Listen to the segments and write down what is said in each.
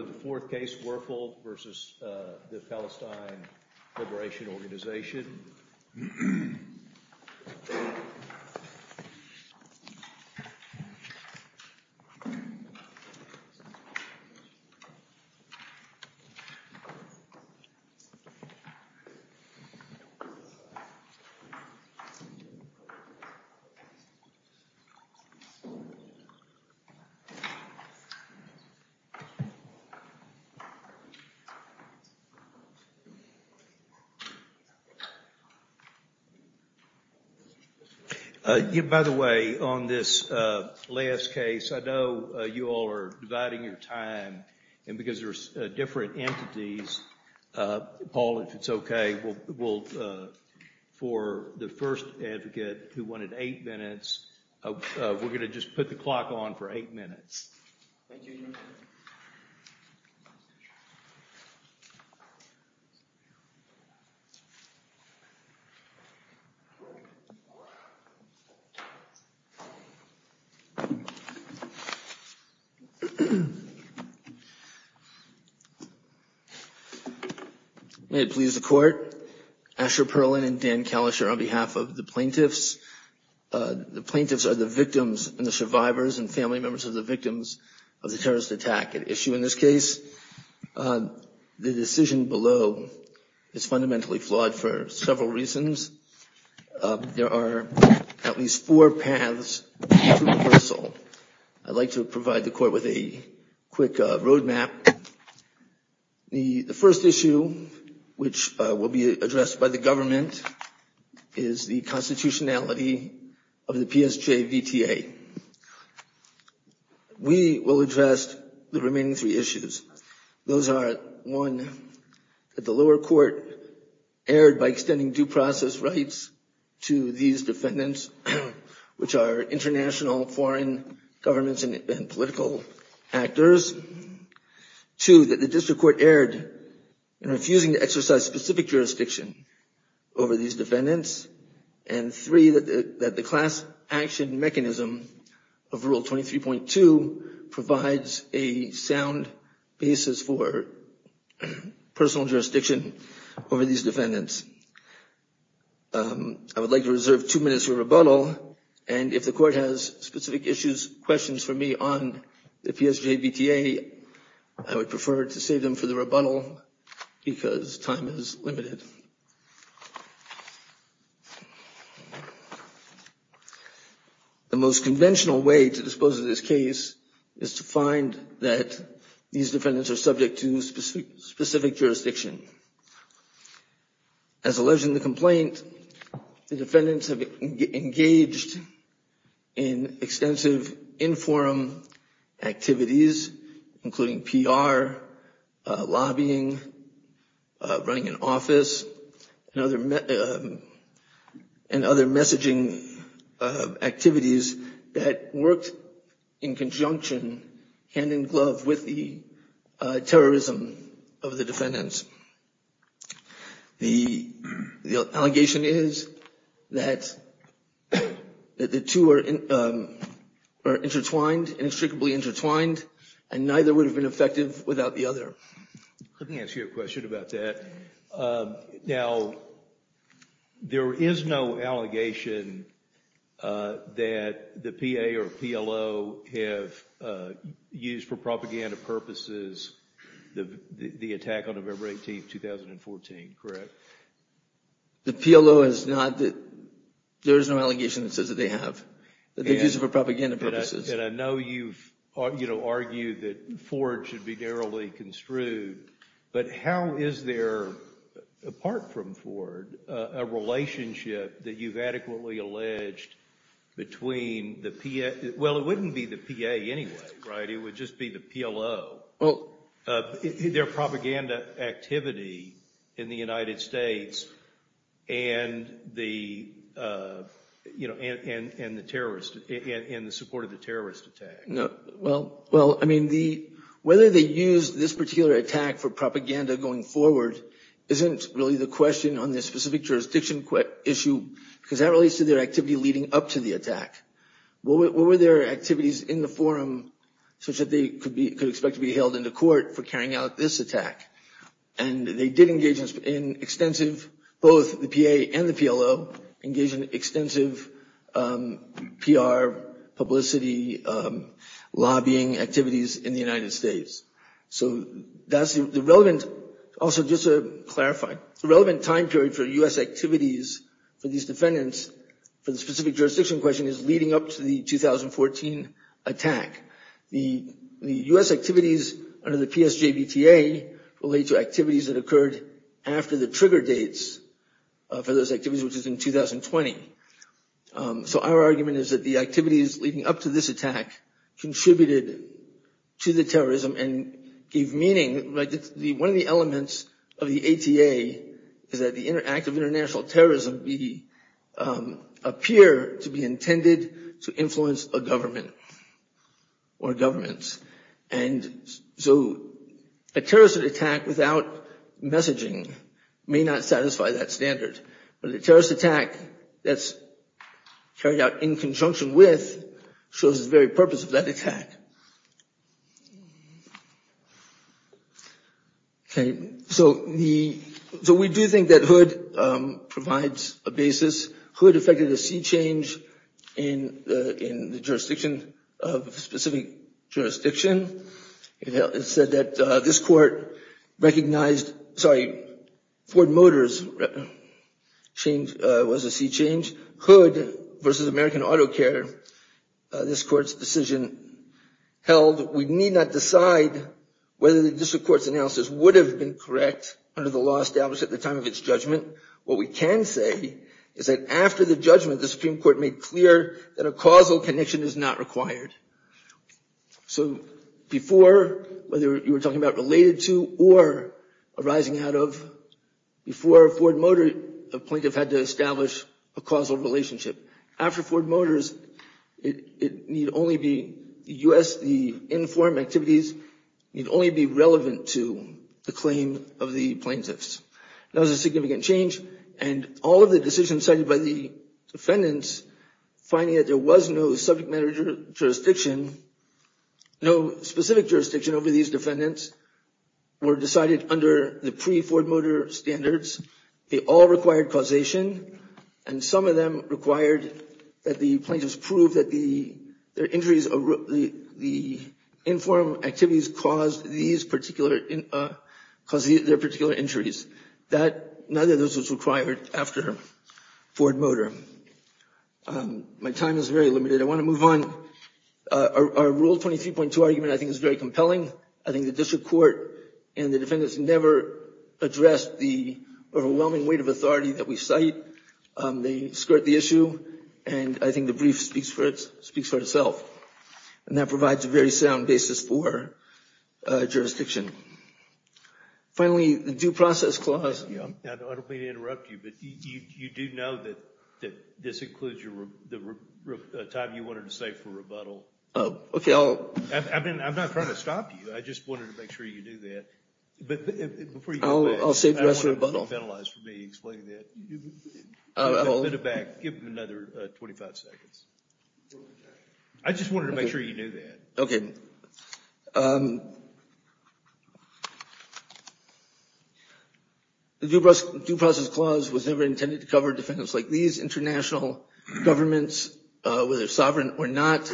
The Fourth Case Werfel v. The Palestine Liberation Organization By the way, on this last case, I know you all are dividing your time, and because there are different entities, Paul, if it's okay, we'll, for the first advocate who wanted eight minutes, we're going to just put the clock on for eight minutes. May it please the Court, Asher Perlin and Dan Kalischer on behalf of the plaintiffs. The plaintiffs are the victims and the survivors and family members of the victims of the terrorist attack at issue in this case. The decision below is fundamentally flawed for several reasons. There are at least four paths to reversal. I'd like to provide the Court with a quick roadmap. The first issue, which will be addressed by the government, is the constitutionality of the PSJVTA. We will address the remaining three issues. Those are, one, that the lower court erred by extending due process rights to these defendants, which are international foreign governments and political actors. Two, that the district court erred in refusing to exercise specific jurisdiction over these defendants, and three, that the class action mechanism of Rule 23.2 provides a sound basis for personal jurisdiction over these defendants. I would like to reserve two minutes for rebuttal, and if the Court has specific issues, questions for me on the PSJVTA, I would prefer to save them for the rebuttal because time is limited. The most conventional way to dispose of this case is to find that these defendants are subject to specific jurisdiction. As alleged in the complaint, the defendants have engaged in extensive in-forum activities, including PR, lobbying, running an office, and other messaging activities that worked in conjunction, hand-in-glove, with the terrorism of the defendants. The allegation is that the two are intertwined, inextricably intertwined, and neither would have been effective without the other. Let me ask you a question about that. Now, there is no allegation that the PA or PLO have used for propaganda purposes the attack on November 18, 2014, correct? The PLO has not, there is no allegation that says that they have, that they've used it for propaganda purposes. And I know you've argued that Ford should be narrowly construed, but how is there, apart from Ford, a relationship that you've adequately alleged between the PA, well, it wouldn't be the PA anyway, right, it would just be the PLO, their propaganda activity in the United States and the, you know, and the terrorist, and the support of the terrorist attack? Well, I mean, whether they used this particular attack for propaganda going forward isn't really the question on this specific jurisdiction issue, because that relates to their activity leading up to the attack. What were their activities in the forum such that they could expect to be held into court for carrying out this attack? And they did engage in extensive, both the PA and the PLO, engaged in extensive PR, publicity, lobbying activities in the United States. So that's the relevant, also just to clarify, the relevant time period for U.S. activities for these defendants for the specific jurisdiction question is leading up to the 2014 attack. The U.S. activities under the PSJBTA relate to activities that occurred after the trigger dates for those activities, which is in 2020. So our argument is that the activities leading up to this attack contributed to the terrorism and gave meaning, like one of the elements of the ATA is that the act of international terrorism appear to be intended to influence a government or governments. And so a terrorist attack without messaging may not satisfy that standard, but a terrorist attack that's carried out in conjunction with shows the very purpose of that attack. So we do think that Hood provides a basis. Hood effected a sea change in the jurisdiction of a specific jurisdiction. It said that this court recognized, sorry, Ford Motors was a sea change. Hood versus American Auto Care, this court's decision held we need not decide whether the district court's analysis would have been correct under the law established at the time of its judgment. What we can say is that after the judgment, the Supreme Court made clear that a causal connection is not required. So before, whether you were talking about related to or arising out of, before Ford Motor, the plaintiff had to establish a causal relationship. After Ford Motors, it need only be, the U.S., the informed activities need only be relevant to the claim of the plaintiffs. That was a significant change and all of the decisions cited by the defendants finding that there was no subject matter jurisdiction, no specific jurisdiction over these defendants were decided under the pre-Ford Motor standards. They all required causation and some of them required that the plaintiffs prove that their injuries, the informed activities caused these particular, caused their particular injuries. That, none of those was required after Ford Motor. My time is very limited. I want to move on. Our Rule 23.2 argument I think is very compelling. I think the district court and the defendants never addressed the overwhelming weight of authority that we cite. They skirt the issue and I think the brief speaks for itself. And that provides a very sound basis for jurisdiction. Finally, the Due Process Clause. I don't mean to interrupt you, but you do know that this includes the time you wanted to save for rebuttal. I'm not trying to stop you. I just wanted to make sure you knew that. I'll save the rest for rebuttal. I don't want to be penalized for me explaining that. Give them another 25 seconds. I just wanted to make sure you knew that. Okay. The Due Process Clause was never intended to cover defendants like these. International governments, whether sovereign or not,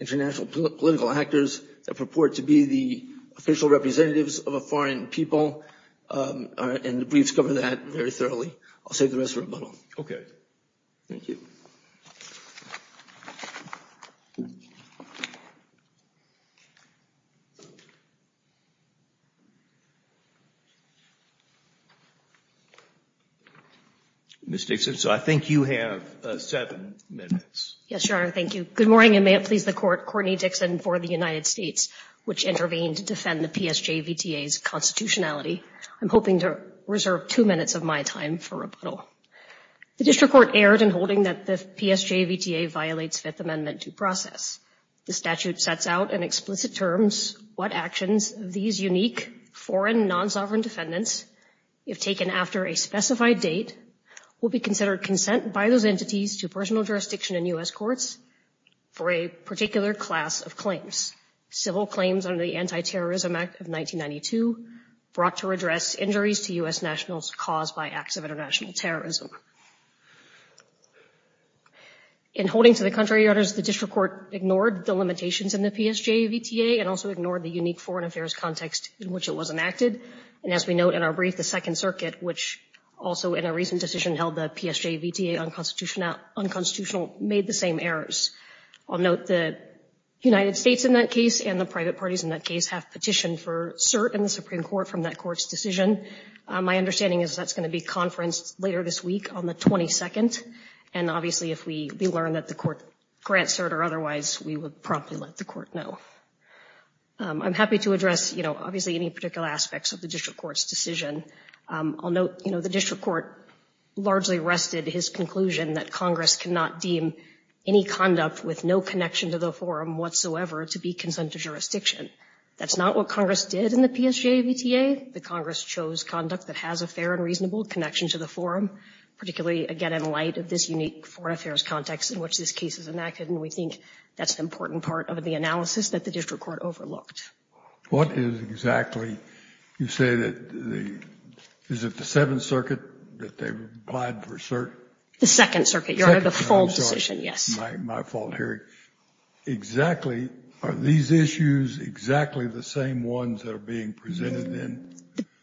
international political actors that purport to be the official representatives of a foreign people, and the briefs cover that very thoroughly. I'll save the rest for rebuttal. Okay. Thank you. Ms. Dixon, so I think you have seven minutes. Yes, Your Honor. Thank you. Good morning and may it please the Court. Courtney Dixon for the United States, which intervened to defend the PSJVTA's constitutionality. I'm hoping to reserve two minutes of my time for rebuttal. The district court erred in holding that the PSJVTA violates Fifth Amendment due process. The statute sets out in explicit terms what actions these unique foreign non-sovereign defendants, if taken after a specified date, will be considered consent by those entities to personal jurisdiction in U.S. courts for a particular class of claims. Civil claims under the Anti-Terrorism Act of 1992 brought to address injuries to U.S. citizens from international terrorism. In holding to the contrary, Your Honors, the district court ignored the limitations in the PSJVTA and also ignored the unique foreign affairs context in which it was enacted. And as we note in our brief, the Second Circuit, which also in a recent decision held the PSJVTA unconstitutional, made the same errors. I'll note the United States in that case and the private parties in that case have petitioned for cert in the Supreme Court from that court's decision. My understanding is that's going to be conferenced later this week on the 22nd, and obviously if we learn that the court grants cert or otherwise, we would promptly let the court know. I'm happy to address, you know, obviously any particular aspects of the district court's decision. I'll note, you know, the district court largely rested his conclusion that Congress cannot deem any conduct with no connection to the forum whatsoever to be consent to jurisdiction. That's not what Congress did in the PSJVTA. The Congress chose conduct that has a fair and reasonable connection to the forum, particularly again in light of this unique foreign affairs context in which this case is enacted, and we think that's an important part of the analysis that the district court overlooked. What is exactly, you say that the, is it the Seventh Circuit that they applied for cert? The Second Circuit, Your Honor, the full decision, yes. My fault, Harry. Exactly, are these issues exactly the same ones that are being presented then?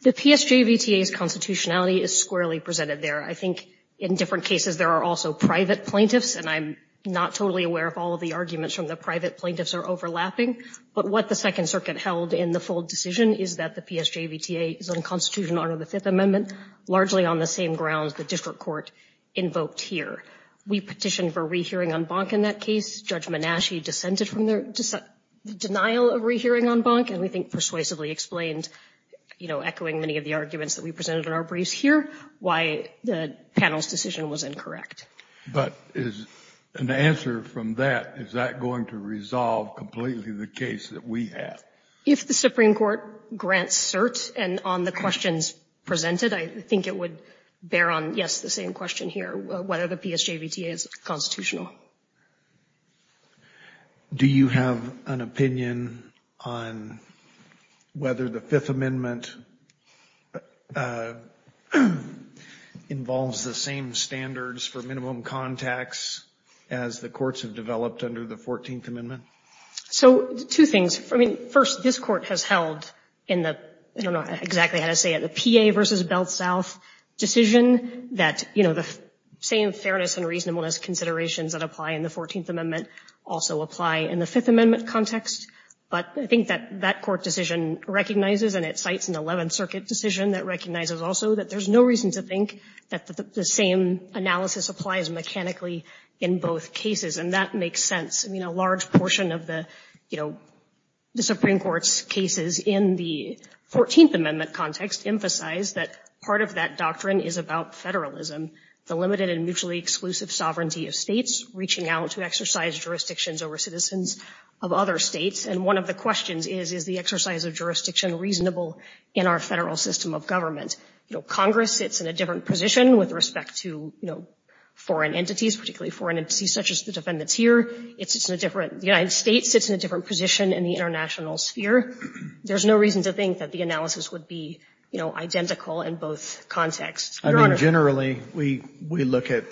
The PSJVTA's constitutionality is squarely presented there. I think in different cases there are also private plaintiffs, and I'm not totally aware of all of the arguments from the private plaintiffs are overlapping, but what the Second Circuit held in the full decision is that the PSJVTA is unconstitutional under the Fifth Amendment, largely on the same grounds the district court invoked here. We petitioned for rehearing en banc in that case. Judge Menasche dissented from the denial of rehearing en banc, and we think persuasively explained, you know, echoing many of the arguments that we presented in our briefs here, why the panel's decision was incorrect. But is an answer from that, is that going to resolve completely the case that we have? If the Supreme Court grants cert, and on the questions presented, I think it would bear on, yes, the same question here, whether the PSJVTA is constitutional. Do you have an opinion on whether the Fifth Amendment involves the same standards for minimum contacts as the courts have developed under the Fourteenth Amendment? So two things. I mean, first, this court has held in the, I don't know exactly how to say it, the PA v. Belt South decision that, you know, the same fairness and reasonableness considerations that apply in the Fourteenth Amendment also apply in the Fifth Amendment context. But I think that that court decision recognizes, and it cites an Eleventh Circuit decision that recognizes also that there's no reason to think that the same analysis applies mechanically in both cases. And that makes sense. I mean, a large portion of the, you know, the Supreme Court's cases in the Fourteenth Amendment context emphasize that part of that doctrine is about federalism, the limited and mutually exclusive sovereignty of states reaching out to exercise jurisdictions over citizens of other states. And one of the questions is, is the exercise of jurisdiction reasonable in our federal system of government? You know, Congress sits in a different position with respect to, you know, foreign entities, particularly foreign entities such as the defendants here. It sits in a different, the United States sits in a different position in the international sphere. There's no reason to think that the analysis would be, you know, identical in both contexts. Your Honor. I mean, generally, we look at,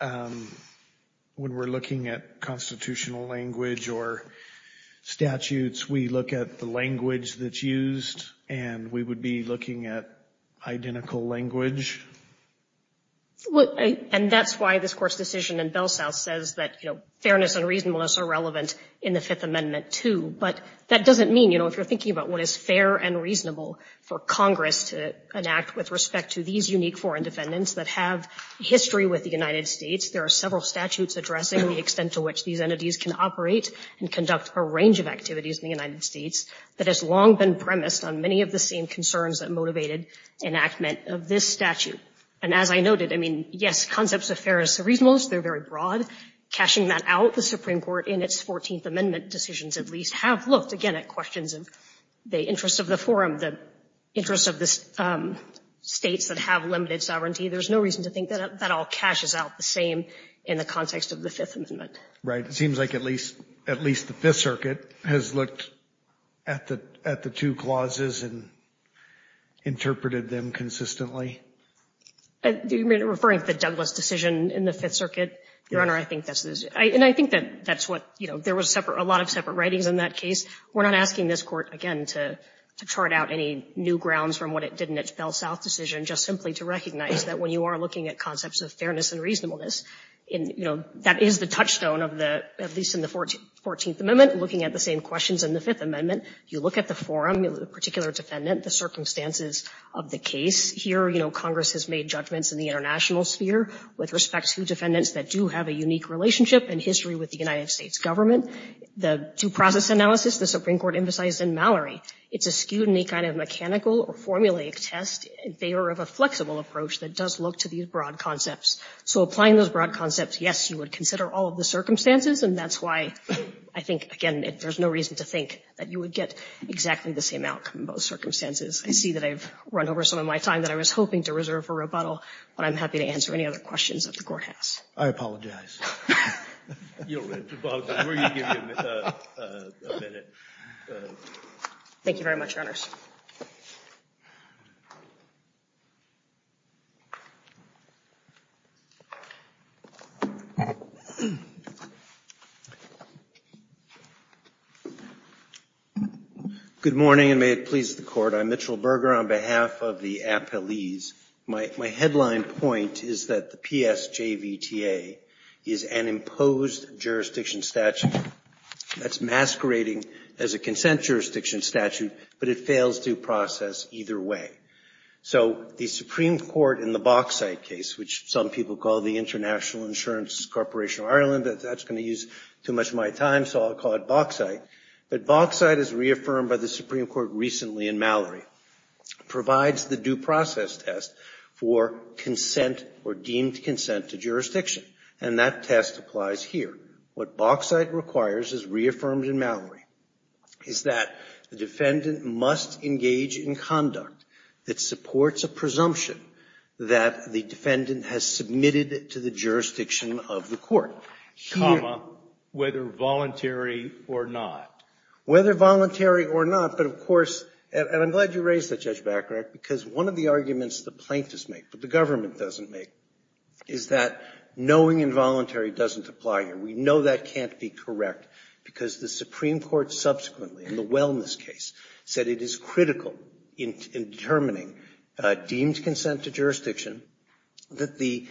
when we're looking at constitutional language or statutes, we look at the language that's used, and we would be looking at identical language. And that's why this Court's decision in Belsau says that, you know, fairness and reasonableness are relevant in the Fifth Amendment, too. But that doesn't mean, you know, if you're thinking about what is fair and reasonable for Congress to enact with respect to these unique foreign defendants that have history with the United States, there are several statutes addressing the extent to which these entities can operate and conduct a range of activities in the United States that has long been premised on many of the same concerns that motivated enactment of this statute. And as I noted, I mean, yes, concepts of fairness are reasonable, they're very broad. Cashing that out, the Supreme Court, in its Fourteenth Amendment decisions, at least, have looked, again, at questions of the interests of the forum, the interests of the states that have limited sovereignty. There's no reason to think that that all cashes out the same in the context of the Fifth Amendment. Right. It seems like at least the Fifth Circuit has looked at the two clauses and interpreted them consistently. Are you referring to the Douglas decision in the Fifth Circuit, Your Honor? I think that's what, you know, there was a lot of separate writings in that case. We're not asking this Court, again, to chart out any new grounds from what it did in its Bell South decision, just simply to recognize that when you are looking at concepts of fairness and reasonableness, you know, that is the touchstone of the, at least in the Fourteenth Amendment, looking at the same questions in the Fifth Amendment. You look at the forum, the particular defendant, the circumstances of the case here, you know, Congress has made judgments in the international sphere with respect to defendants that do have a unique relationship and history with the United States government. The due process analysis, the Supreme Court emphasized in Mallory, it's a scrutiny kind of mechanical or formulaic test in favor of a flexible approach that does look to these broad concepts. So, applying those broad concepts, yes, you would consider all of the circumstances and that's why I think, again, there's no reason to think that you would get exactly the same outcome in both circumstances. I see that I've run over some of my time that I was hoping to reserve for rebuttal, but I'm happy to answer any other questions that the Court has. I apologize. You'll have to apologize. We're going to give you a minute. Thank you very much, Your Honors. Good morning, and may it please the Court. I'm Mitchell Berger on behalf of the appellees. My headline point is that the PSJVTA is an imposed jurisdiction statute that's masquerading as a consent jurisdiction statute, but it fails due process either way. So, the Supreme Court in the Bauxite case, which some people call the International Insurance Corporation of Ireland, that's going to use too much of my time, so I'll call it Bauxite, but Bauxite is reaffirmed by the Supreme Court recently in Mallory, provides the due process test for consent or deemed consent to jurisdiction, and that test applies here. What Bauxite requires, as reaffirmed in Mallory, is that the defendant must engage in conduct that supports a presumption that the defendant has submitted to the jurisdiction of the Court. Comma, whether voluntary or not. Whether voluntary or not, but of course, and I'm glad you raised that, Judge Bacharach, because one of the arguments the plaintiffs make, but the government doesn't make, is that knowing involuntary doesn't apply here. We know that can't be correct, because the Supreme Court subsequently, in the Wellness case, said it is critical in determining deemed consent to jurisdiction that the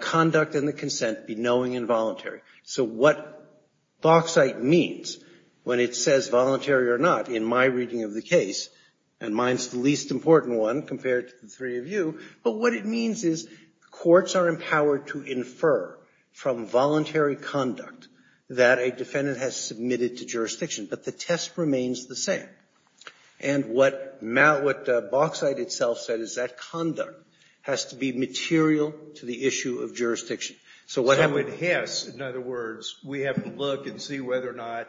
conduct and the consent be knowing and voluntary. So what Bauxite means, when it says voluntary or not, in my reading of the case, and mine's the least important one compared to the three of you, but what it means is courts are empowered to infer from voluntary conduct that a defendant has submitted to jurisdiction, but the test remains the same. And what Bauxite itself said is that conduct has to be material to the issue of jurisdiction. So what happens? So it has, in other words, we have to look and see whether or not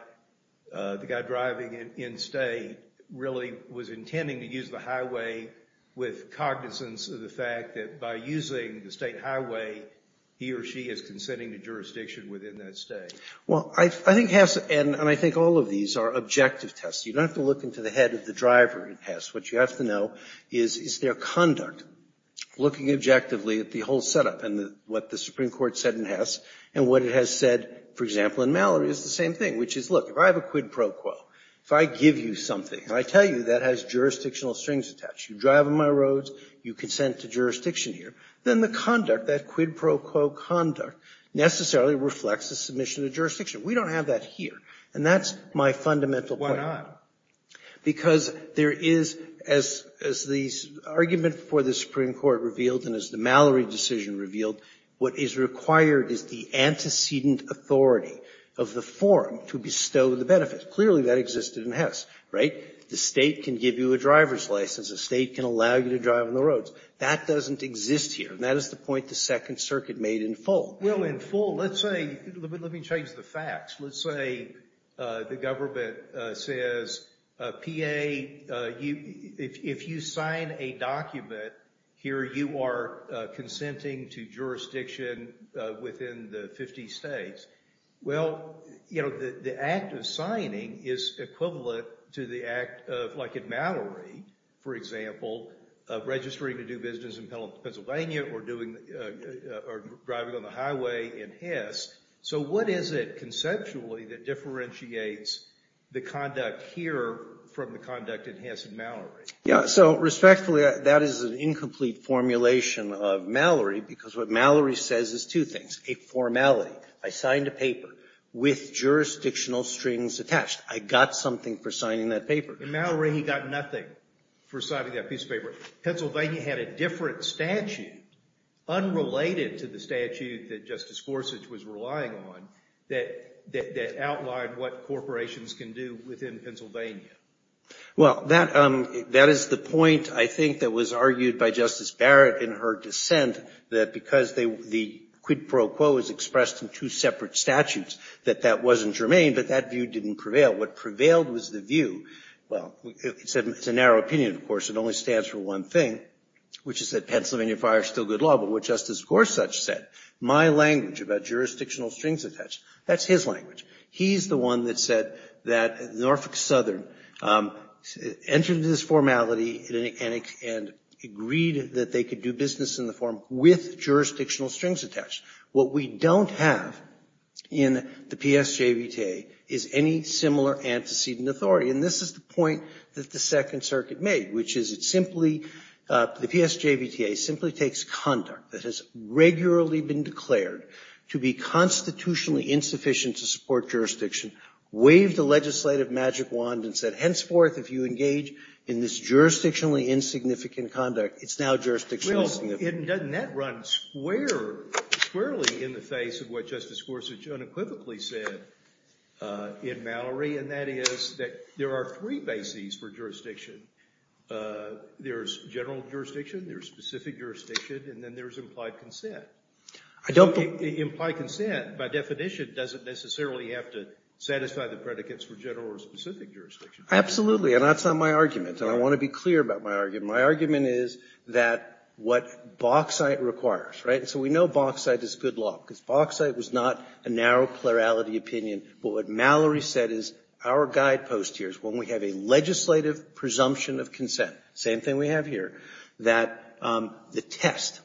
the guy driving in state really was intending to use the highway with cognizance of the fact that by using the state highway, he or she is consenting to jurisdiction within that state. Well, I think Hess, and I think all of these are objective tests. You don't have to look into the head of the driver in Hess. What you have to know is, is their conduct, looking objectively at the whole set-up and what the Supreme Court said in Hess and what it has said, for example, in Mallory, is the same thing, which is, look, if I have a quid pro quo, if I give you something and I tell you that has jurisdictional strings attached, you drive on my roads, you consent to jurisdiction here, then the conduct, that quid pro quo conduct necessarily reflects the submission of jurisdiction. We don't have that here. And that's my fundamental point. Because there is, as the argument for the Supreme Court revealed and as the Mallory decision revealed, what is required is the antecedent authority of the forum to bestow the benefits. Clearly, that existed in Hess, right? The state can give you a driver's license. The state can allow you to drive on the roads. That doesn't exist here. And that is the point the Second Circuit made in full. Well, in full, let's say, let me change the facts. Let's say the government says, PA, if you sign a document here, you are consenting to jurisdiction within the 50 states. Well, you know, the act of signing is equivalent to the act of, like in Mallory, for example, of registering to do business in Pennsylvania or driving on the highway in Hess. So what is it conceptually that differentiates the conduct here from the conduct in Hess and Mallory? Yeah, so respectfully, that is an incomplete formulation of Mallory, because what Mallory says is two things, a formality. I signed a paper with jurisdictional strings attached. I got something for signing that paper. And Mallory, he got nothing for signing that piece of paper. Pennsylvania had a different statute, unrelated to the statute that Justice Gorsuch was relying on, that outlined what corporations can do within Pennsylvania. Well, that is the point, I think, that was argued by Justice Barrett in her dissent, that because the quid pro quo is expressed in two separate statutes, that that wasn't germane, but that view didn't prevail. What prevailed was the view, well, it's a narrow opinion, of course, it only stands for one thing, which is that Pennsylvania fire is still good law. But what Justice Gorsuch said, my language about jurisdictional strings attached, that's his language. He's the one that said that Norfolk Southern entered into this formality and agreed that they could do business in the form with jurisdictional strings attached. What we don't have in the PSJVTA is any similar antecedent authority. And this is the point that the Second Circuit made, which is it simply, the PSJVTA simply takes conduct that has regularly been declared to be constitutionally insufficient to support jurisdiction, waved a legislative magic wand and said, henceforth, if you engage in this jurisdictionally insignificant conduct, it's now jurisdictional insignificant. Well, doesn't that run squarely in the face of what Justice Gorsuch unequivocally said in Mallory, and that is that there are three bases for jurisdiction. There's general jurisdiction, there's specific jurisdiction, and then there's implied consent. Implied consent, by definition, doesn't necessarily have to satisfy the predicates for general or specific jurisdiction. Absolutely. And that's not my argument, and I want to be clear about my argument. My argument is that what Bauxite requires, right, so we know Bauxite is good law, because Bauxite was not a narrow plurality opinion. But what Mallory said is our guidepost here is when we have a legislative presumption of consent, same thing we have here, that the test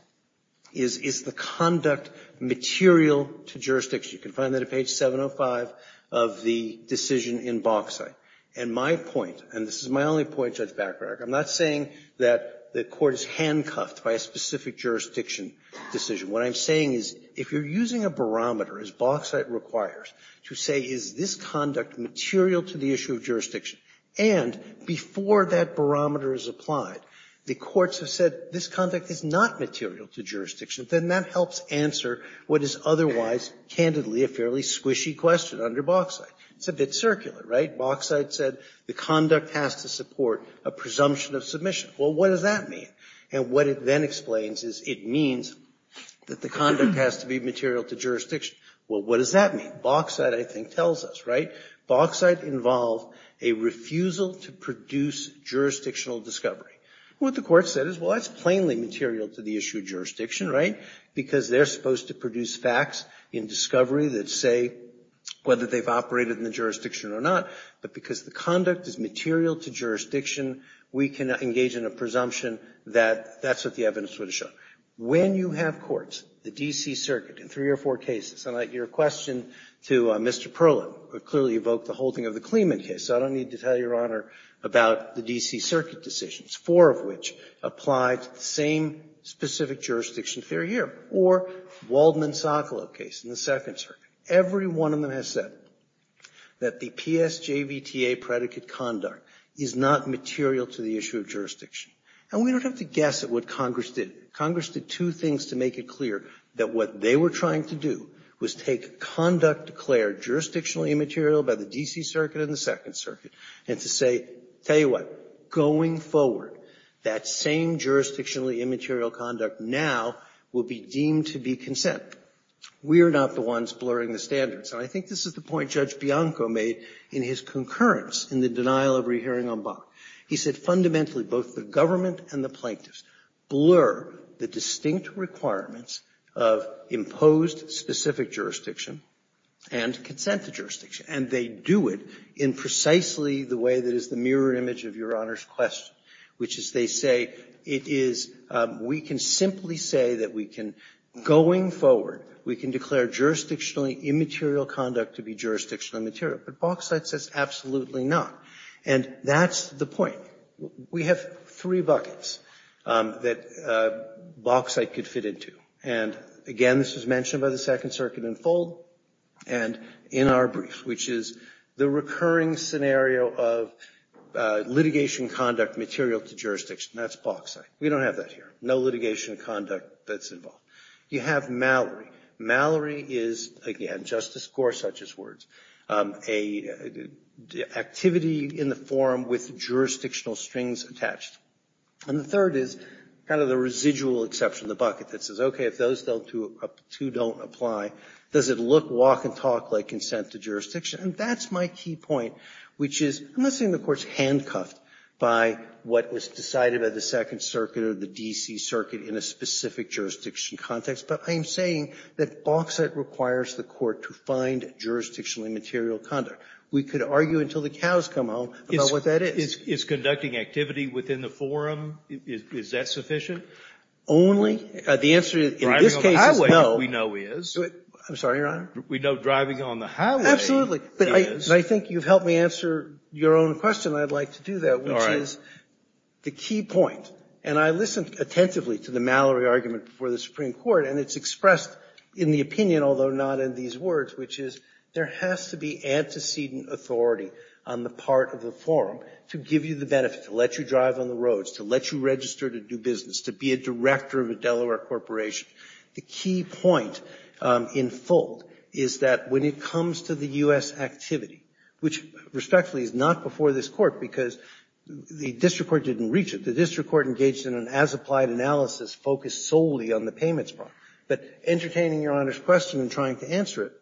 is the conduct material to jurisdiction. You can find that at page 705 of the decision in Bauxite. And my point, and this is my only point, Judge Bacharach, I'm not saying that the Court is handcuffed by a specific jurisdiction decision. What I'm saying is if you're using a barometer, as Bauxite requires, to say is this conduct material to the issue of jurisdiction, and before that barometer is applied, the courts have said this conduct is not material to jurisdiction, then that helps answer what is otherwise, candidly, a fairly squishy question under Bauxite. It's a bit circular, right? Bauxite said the conduct has to support a presumption of submission. Well, what does that mean? And what it then explains is it means that the conduct has to be material to jurisdiction. Well, what does that mean? Bauxite, I think, tells us, right? Bauxite involved a refusal to produce jurisdictional discovery. What the Court said is, well, that's plainly material to the issue of jurisdiction, right, because they're supposed to produce facts in discovery that say whether they've operated in the jurisdiction or not, but because the conduct is material to jurisdiction, we can engage in a presumption that that's what the evidence would have shown. When you have courts, the D.C. Circuit, in three or four cases, and I'd like to give a question to Mr. Perlow, who clearly evoked the whole thing of the Clement case, so I don't need to tell Your Honor about the D.C. Circuit decisions, four of which applied to the same specific jurisdiction theory here, or Waldman-Socolo case in the Second Circuit. Every one of them has said that the PSJVTA predicate conduct is not material to the issue of jurisdiction, and we don't have to guess at what Congress did. Congress did two things to make it clear that what they were trying to do was take conduct declared jurisdictional immaterial by the D.C. Circuit and the Second Circuit and to say, tell you what, going forward, that same jurisdictional immaterial conduct now will be deemed to be consent. We are not the ones blurring the standards. And I think this is the point Judge Bianco made in his concurrence in the denial of rehearing en banc. He said, fundamentally, both the government and the plaintiffs blur the distinct requirements of imposed specific jurisdiction and consent to jurisdiction. And they do it in precisely the way that is the mirror image of Your Honor's question, which is they say, it is, we can simply say that we can, going forward, we can declare jurisdictional immaterial conduct to be jurisdictional material, but Bauxite says absolutely not. And that's the point. We have three buckets that Bauxite could fit into. And again, this was mentioned by the Second Circuit in full and in our brief, which is the recurring scenario of litigation conduct material to jurisdiction, that's Bauxite. We don't have that here. No litigation conduct that's involved. You have Mallory. Mallory is, again, Justice Gorsuch's words, an activity in the forum with jurisdictional strings attached. And the third is kind of the residual exception, the bucket that says, okay, if those two don't apply, does it look, walk, and talk like consent to jurisdiction? And that's my key point, which is, I'm not saying the Court's handcuffed by what was decided by the Second Circuit or the D.C. Circuit in a specific jurisdiction context, but I am saying that Bauxite requires the Court to find jurisdictional immaterial conduct. We could argue until the cows come home about what that is. It's conducting activity within the forum. Is that sufficient? Only. The answer in this case is no. Driving on the highway, we know is. I'm sorry, Your Honor? We know driving on the highway is. Absolutely. But I think you've helped me answer your own question. I'd like to do that, which is, the key point, and I listened attentively to the Mallory argument before the Supreme Court, and it's expressed in the opinion, although not in these words, which is, there has to be antecedent authority on the part of the forum to give you the benefit, to let you drive on the roads, to let you register to do business, to be a director of a Delaware corporation. The key point in full is that when it comes to the U.S. activity, which respectfully is not before this court, because the district court didn't reach it. The district court engaged in an as-applied analysis focused solely on the payments part. But entertaining Your Honor's question and trying to answer it,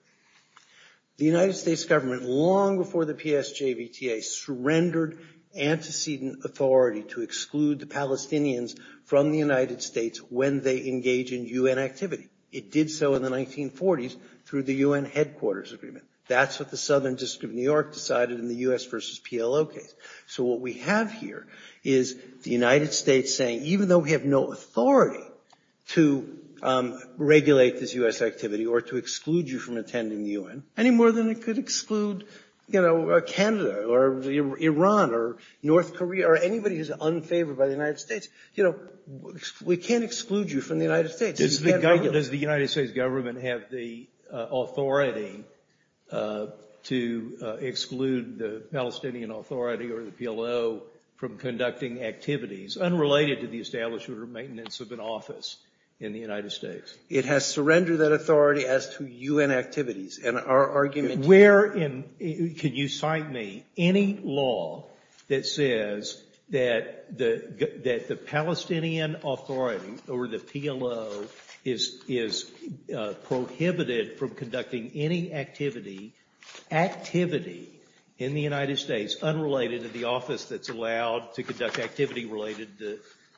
the United States government, long before the PSJVTA, surrendered antecedent authority to exclude the Palestinians from the United States when they engage in UN activity. It did so in the 1940s through the UN Headquarters Agreement. That's what the Southern District of New York decided in the U.S. versus PLO case. So what we have here is the United States saying, even though we have no authority to regulate this U.S. activity or to exclude you from attending the UN, any more than it could exclude, you know, Canada or Iran or North Korea or anybody who's unfavored by the United States. You know, we can't exclude you from the United States. Does the United States government have the authority to exclude the Palestinian Authority or the PLO from conducting activities unrelated to the establishment or maintenance of an office in the United States? It has surrendered that authority as to UN activities. And our argument— Where in—can you cite me any law that says that the Palestinian Authority or the PLO is prohibited from conducting any activity—activity—in the United States unrelated to the office that's allowed to conduct activity related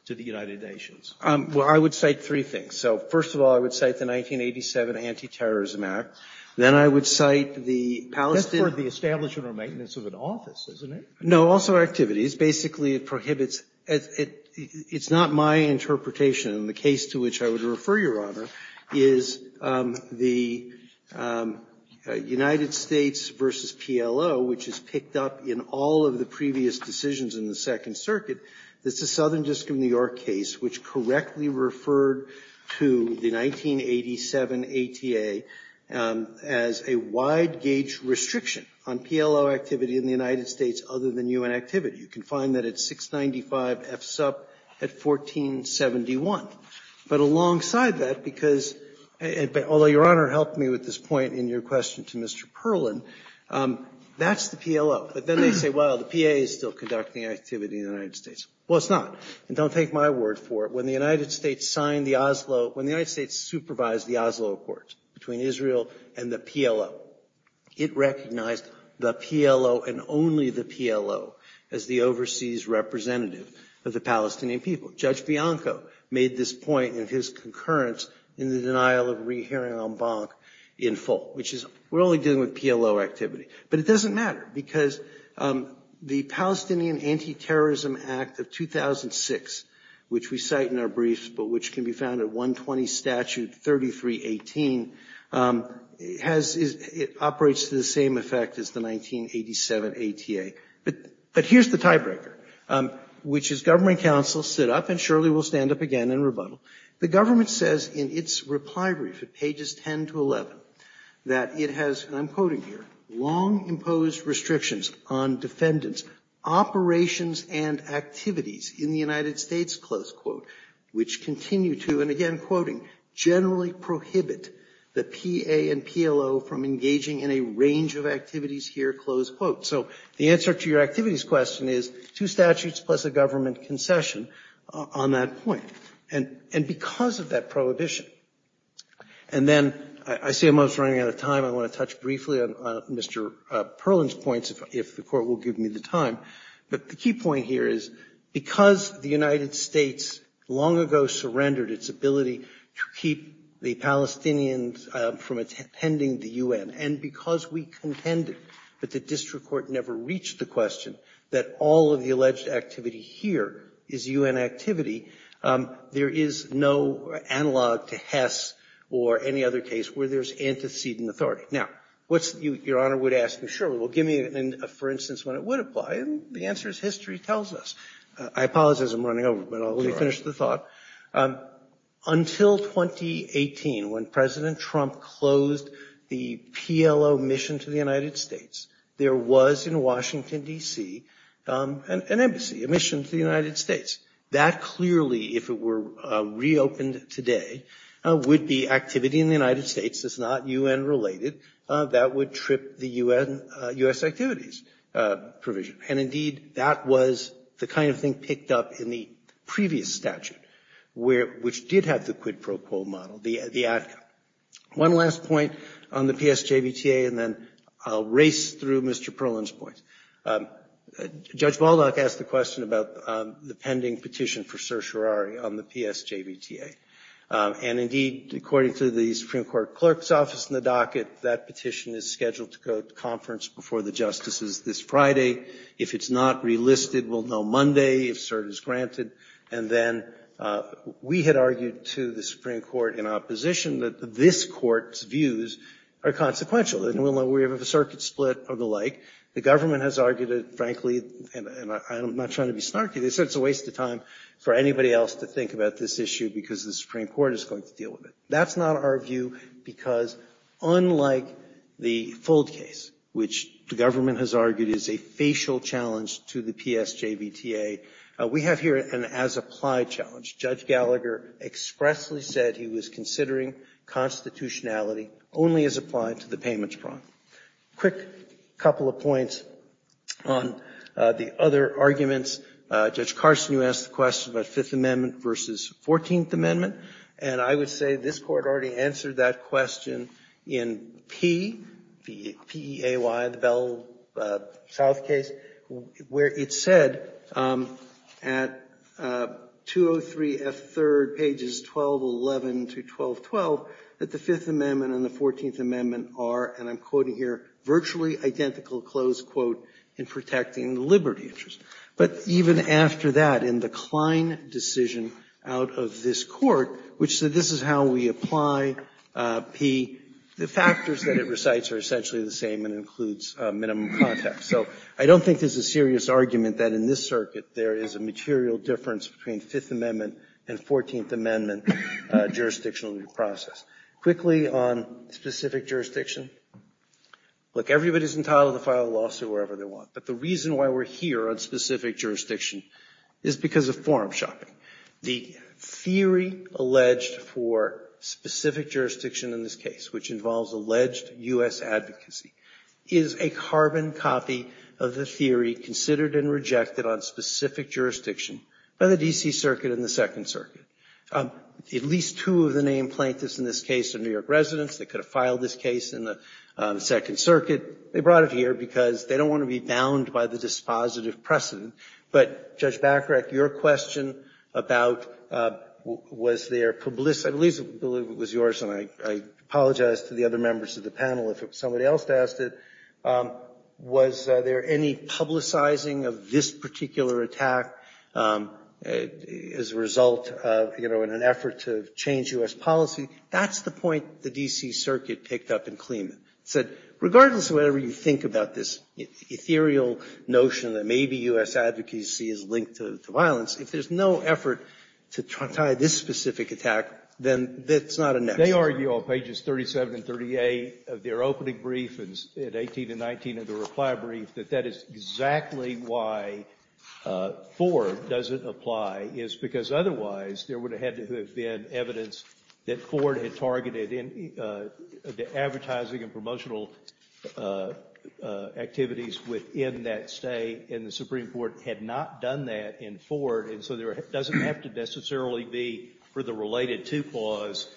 to the United Nations? Well, I would cite three things. So first of all, I would cite the 1987 Anti-Terrorism Act. Then I would cite the Palestinian— That's for the establishment or maintenance of an office, isn't it? No, also activities. Activities, basically, it prohibits—it's not my interpretation, and the case to which I would refer, Your Honor, is the United States v. PLO, which is picked up in all of the previous decisions in the Second Circuit. It's a Southern District of New York case which correctly referred to the 1987 ATA as a wide-gauge restriction on PLO activity in the United States other than UN activity. You can find that at 695 F-SUP at 1471. But alongside that, because—although Your Honor helped me with this point in your question to Mr. Perlin—that's the PLO. But then they say, well, the PA is still conducting activity in the United States. Well, it's not. And don't take my word for it. When the United States signed the Oslo—when the United States supervised the Oslo Accords between Israel and the PLO, it recognized the PLO and only the PLO as the overseas representative of the Palestinian people. Judge Bianco made this point in his concurrence in the denial of re-hearing en banc in full, which is, we're only dealing with PLO activity. But it doesn't matter, because the Palestinian Anti-Terrorism Act of 2006, which we cite in our briefs, but which can be found at 120 Statute 3318, has—operates to the same effect as the 1987 ATA. But here's the tiebreaker, which is, government and counsel sit up, and surely we'll stand up again and rebuttal. The government says in its reply brief at pages 10 to 11 that it has—and I'm quoting here—long-imposed restrictions on defendants' operations and activities in the United States, close quote, which continue to—and again, quoting—generally prohibit the PA and PLO from engaging in a range of activities here, close quote. So the answer to your activities question is two statutes plus a government concession on that point, and because of that prohibition. And then, I see I'm almost running out of time, I want to touch briefly on Mr. Perlin's points, if the Court will give me the time, but the key point here is, because the United States long ago surrendered its ability to keep the Palestinians from attending the U.N., and because we contended that the district court never reached the question that all of the alleged activity here is U.N. activity, there is no analog to Hess or any other case where there's antecedent authority. Now, what's—your Honor would ask me, sure, well, give me, for instance, when it would apply, and the answer is history tells us. I apologize, I'm running over, but I'll let you finish the thought. Until 2018, when President Trump closed the PLO mission to the United States, there was in Washington, D.C., an embassy, a mission to the United States. That clearly, if it were reopened today, would be activity in the United States that's not U.N. related, that would trip the U.S. activities provision. And indeed, that was the kind of thing picked up in the previous statute, which did have the quid pro quo model, the ADCA. One last point on the PSJVTA, and then I'll race through Mr. Perlin's points. Judge Baldock asked the question about the pending petition for certiorari on the PSJVTA. And indeed, according to the Supreme Court clerk's office in the docket, that petition is scheduled to go to conference before the justices this Friday. If it's not relisted, we'll know Monday, if cert is granted. And then we had argued to the Supreme Court in opposition that this Court's views are consequential. And we'll know we have a circuit split or the like. The government has argued it, frankly, and I'm not trying to be snarky, this is a waste of time for anybody else to think about this issue, because the Supreme Court is going to deal with it. That's not our view, because unlike the Fuld case, which the government has argued is a facial challenge to the PSJVTA, we have here an as-applied challenge. Judge Gallagher expressly said he was considering constitutionality only as applied to the payments prompt. A quick couple of points on the other arguments. Judge Carson, you asked the question about Fifth Amendment versus Fourteenth Amendment. And I would say this Court already answered that question in P, P-E-A-Y, the Bell-South case, where it said at 203F3rd, pages 1211 to 1212, that the Fifth Amendment and the Fourteenth Amendment are, and I'm quoting here, virtually identical, close quote, in protecting the liberty interest. But even after that, in the Klein decision out of this Court, which said this is how we apply P, the factors that it recites are essentially the same and includes minimum context. So I don't think there's a serious argument that in this circuit there is a material difference between Fifth Amendment and Fourteenth Amendment jurisdictional process. Quickly on specific jurisdiction, look, everybody's entitled to file a lawsuit wherever they want. But the reason why we're here on specific jurisdiction is because of forum shopping. The theory alleged for specific jurisdiction in this case, which involves alleged U.S. advocacy, is a carbon copy of the theory considered and rejected on specific jurisdiction by the D.C. Circuit and the Second Circuit. At least two of the named plaintiffs in this case are New York residents. They could have filed this case in the Second Circuit. They brought it here because they don't want to be bound by the dispositive precedent. But Judge Bacharach, your question about was there publicity, I believe it was yours and I apologize to the other members of the panel if somebody else asked it, was there any publicizing of this particular attack as a result of, you know, in an effort to change U.S. policy? That's the point the D.C. Circuit picked up in Clement. Regardless of whatever you think about this ethereal notion that maybe U.S. advocacy is linked to violence, if there's no effort to try to tie this specific attack, then that's not enough. They argue on pages 37 and 38 of their opening brief at 18 and 19 of the reply brief that that is exactly why Ford doesn't apply is because otherwise there would have had to have been evidence that Ford had targeted the advertising and promotional activities within that state, and the Supreme Court had not done that in Ford, and so there doesn't have to necessarily be for the related to cause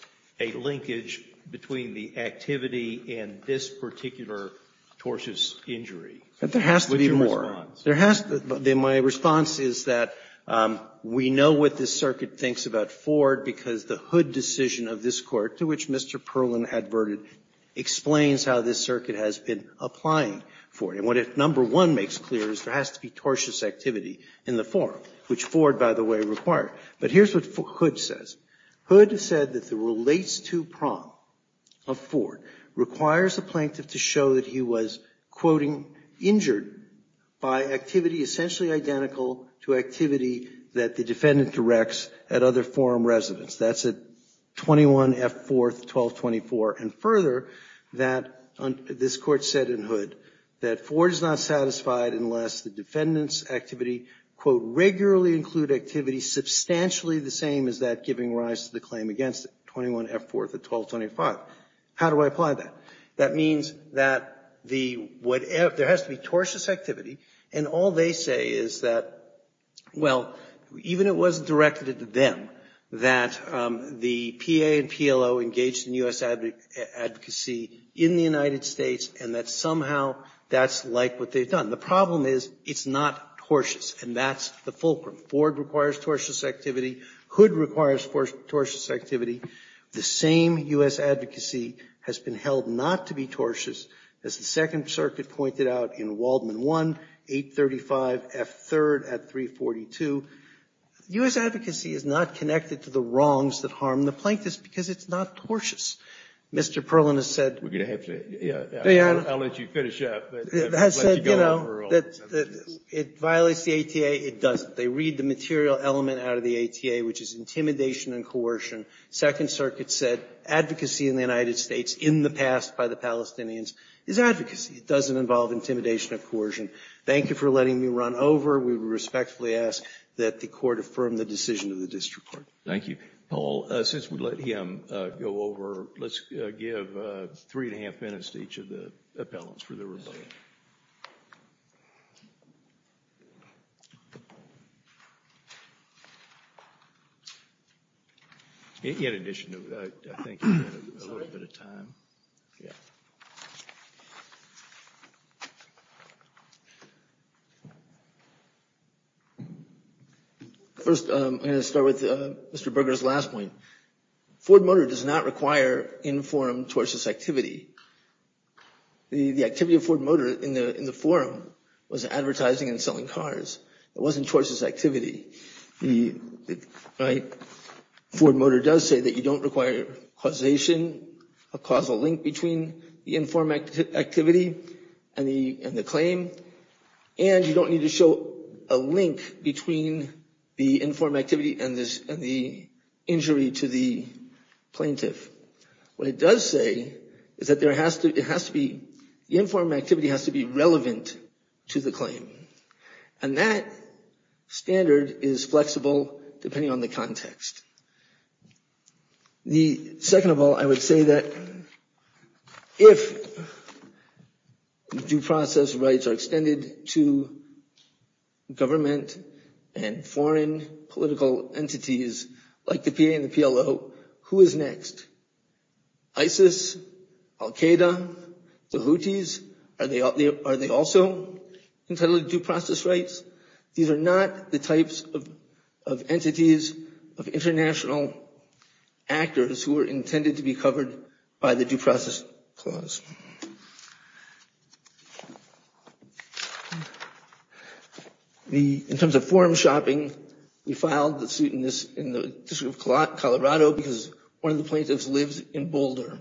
a linkage between the activity and this particular tortious injury. There has to be more. There has to be. My response is that we know what this circuit thinks about Ford because the Hood decision of this Court, to which Mr. Perlin adverted, explains how this circuit has been applying for it. And what it, number one, makes clear is there has to be tortious activity in the forum, which Ford, by the way, required. But here's what Hood says. Hood said that the relates to prompt of Ford requires the plaintiff to show that he was, quoting, injured by activity essentially identical to activity that the defendant directs at other forum residents. That's at 21 F. 4th, 1224. And further, this Court said in Hood that Ford is not satisfied unless the defendant's activity, quote, regularly include activity substantially the same as that giving rise to the claim against it, 21 F. 4th of 1225. How do I apply that? That means that there has to be tortious activity. And all they say is that, well, even it wasn't directed at them, that the PA and PLO engaged in U.S. advocacy in the United States and that somehow that's like what they've done. The problem is it's not tortious, and that's the fulcrum. Ford requires tortious activity. Hood requires tortious activity. The same U.S. advocacy has been held not to be tortious, as the Second Circuit pointed out in Waldman 1, 835 F. 3rd at 342. U.S. advocacy is not connected to the wrongs that harm the plaintiffs because it's not tortious. Mr. Perlin has said- We're going to have to, yeah, I'll let you finish up. That said, you know, it violates the ATA, it doesn't. They read the material element out of the ATA, which is intimidation and coercion. Second Circuit said advocacy in the United States in the past by the Palestinians is advocacy. It doesn't involve intimidation or coercion. Thank you for letting me run over. We respectfully ask that the Court affirm the decision of the District Court. Thank you. Paul, since we let him go over, let's give three and a half minutes to each of the appellants for their rebuttal. In addition to that, I think we have a little bit of time, yeah. First I'm going to start with Mr. Berger's last point. Ford Motor does not require informed tortious activity. The activity of Ford Motor in the forum was advertising and selling cars. It wasn't tortious activity. Ford Motor does say that you don't require causation, a causal link between the informed activity and the claim, and you don't need to show a link between the informed activity and the injury to the plaintiff. What it does say is that the informed activity has to be relevant to the claim. And that standard is flexible depending on the context. Second of all, I would say that if due process rights are extended to government and foreign political entities like the PA and the PLO, who is next? ISIS, Al-Qaeda, the Houthis, are they also entitled to due process rights? These are not the types of entities of international actors who are intended to be covered by the due process clause. In terms of forum shopping, we filed the suit in the District of Colorado because one of the plaintiffs lives in Boulder.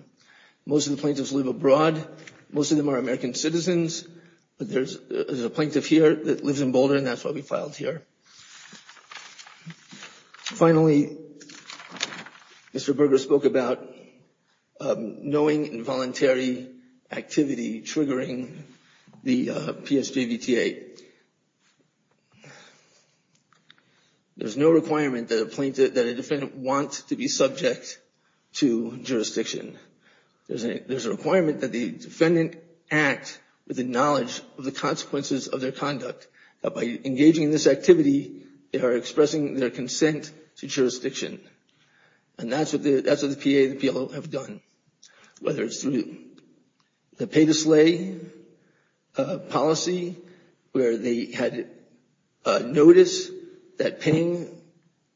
Most of the plaintiffs live abroad. Most of them are American citizens. But there's a plaintiff here that lives in Boulder, and that's why we filed here. Finally, Mr. Berger spoke about knowing involuntary activity triggering the PSJVTA. There's no requirement that a defendant wants to be subject to jurisdiction. There's a requirement that the defendant act with the knowledge of the consequences of their activity, they are expressing their consent to jurisdiction. And that's what the PA and the PLO have done, whether it's through the pay-to-slay policy where they had notice that paying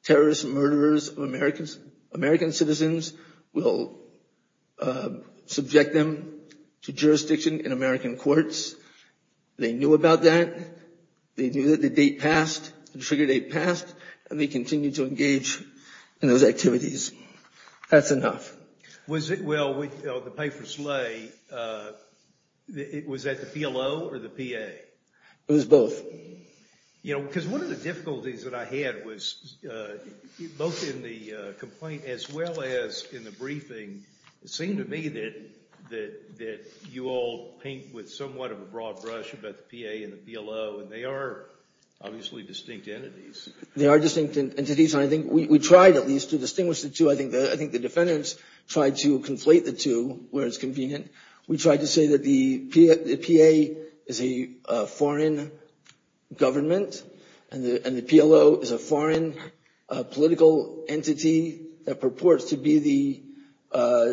terrorist murderers of American citizens will subject them to jurisdiction in American courts. They knew about that. They knew that the date passed, the trigger date passed, and they continued to engage in those activities. That's enough. Well, the pay-for-slay, was that the PLO or the PA? It was both. Because one of the difficulties that I had was both in the complaint as well as in the briefing, it seemed to me that you all paint with somewhat of a broad brush about the PA and the PLO, and they are obviously distinct entities. They are distinct entities, and I think we tried at least to distinguish the two. I think the defendants tried to conflate the two where it's convenient. We tried to say that the PA is a foreign government, and the PLO is a foreign political entity that purports to be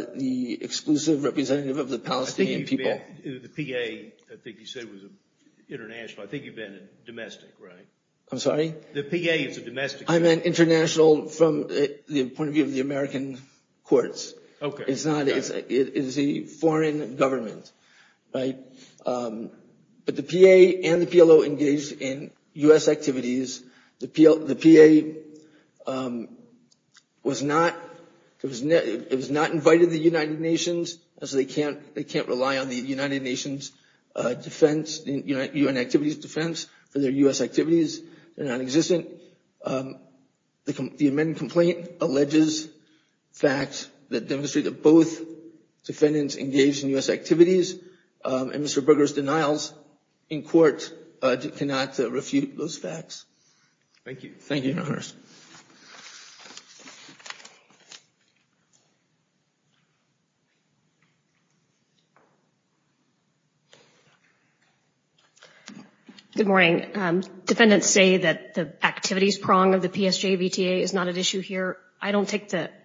the exclusive representative of the Palestinian people. The PA, I think you said was international. I think you meant domestic, right? I'm sorry? The PA is a domestic. I meant international from the point of view of the American courts. Okay. It is a foreign government, right? But the PA and the PLO engaged in U.S. activities. The PA was not invited to the United Nations, so they can't rely on the United Nations defense, UN activities defense, for their U.S. activities. They're nonexistent. The amended complaint alleges facts that demonstrate that both defendants engaged in U.S. activities, and Mr. Berger's denials in court do not refute those facts. Thank you. Thank you, Your Honors. Good morning. Defendants say that the activities prong of the PSJA VTA is not at issue here. I don't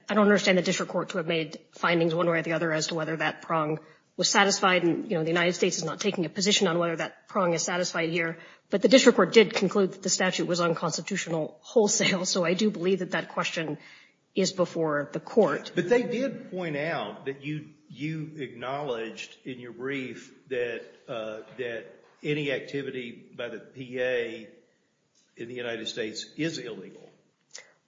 understand the district court to have made findings one way or the other as to whether that prong was satisfied, and the United States is not taking a position on whether that prong is satisfied here. But the district court did conclude that the statute was unconstitutional wholesale, so I do believe that that question is before the court. But they did point out that you acknowledged in your brief that any activity by the PA in the United States is illegal.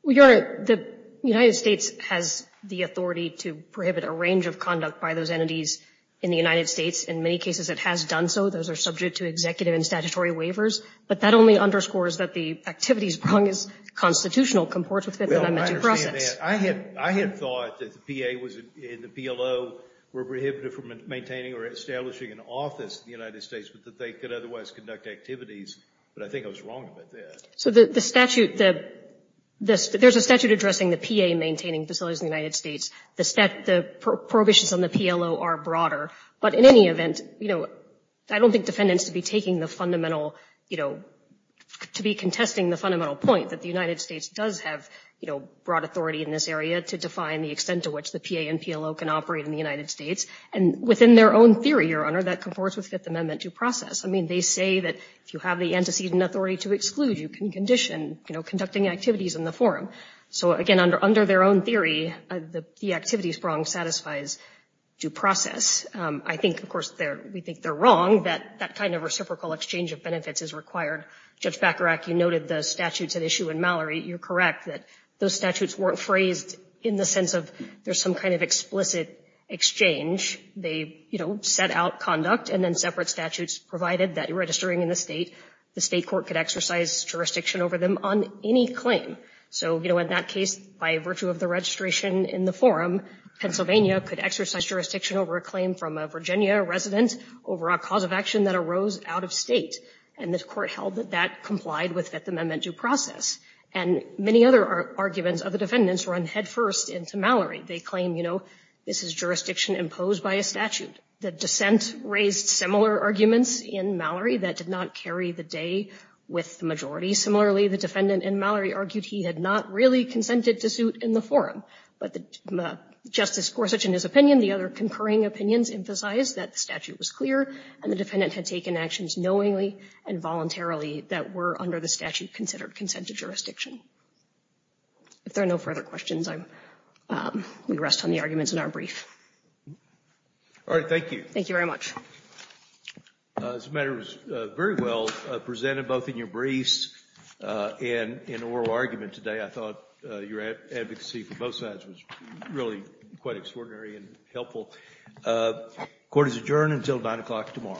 Well, Your Honor, the United States has the authority to prohibit a range of conduct by those entities in the United States. In many cases, it has done so. Those are subject to executive and statutory waivers. But that only underscores that the activities prong is constitutional, comports with the elementary process. Well, I understand that. I had thought that the PA and the PLO were prohibited from maintaining or establishing an office in the United States, but that they could otherwise conduct activities. But I think I was wrong about that. So the statute, there's a statute addressing the PA maintaining facilities in the United States. The prohibitions on the PLO are broader. But in any event, you know, I don't think defendants should be taking the fundamental, you know, to be contesting the fundamental point that the United States does have, you know, broad authority in this area to define the extent to which the PA and PLO can operate in the United States. And within their own theory, Your Honor, that comports with Fifth Amendment due process. I mean, they say that if you have the antecedent authority to exclude, you can condition, you know, conducting activities in the forum. So, again, under their own theory, the activities prong satisfies due process. I think, of course, we think they're wrong that that kind of reciprocal exchange of benefits is required. Judge Bacharach, you noted the statutes at issue in Mallory. You're correct that those statutes weren't phrased in the sense of there's some kind of explicit exchange. They, you know, set out conduct and then separate statutes provided that registering in the state, the state court could exercise jurisdiction over them on any claim. So, you know, in that case, by virtue of the registration in the forum, Pennsylvania could exercise jurisdiction over a claim from a Virginia resident over a cause of action that arose out of state. And the court held that that complied with Fifth Amendment due process. And many other arguments of the defendants run headfirst into Mallory. They claim, you know, this is jurisdiction imposed by a statute. The dissent raised similar arguments in Mallory that did not carry the day with the majority. Similarly, the defendant in Mallory argued he had not really consented to suit in the forum. But Justice Gorsuch, in his opinion, the other concurring opinions, emphasized that the statute was clear and the defendant had taken actions knowingly and voluntarily that were under the statute considered consent to jurisdiction. If there are no further questions, we rest on the arguments in our brief. All right, thank you. Thank you very much. This matter was very well presented both in your briefs and in oral argument today. I thought your advocacy for both sides was really quite extraordinary and helpful. Court is adjourned until 9 o'clock tomorrow. Thank you.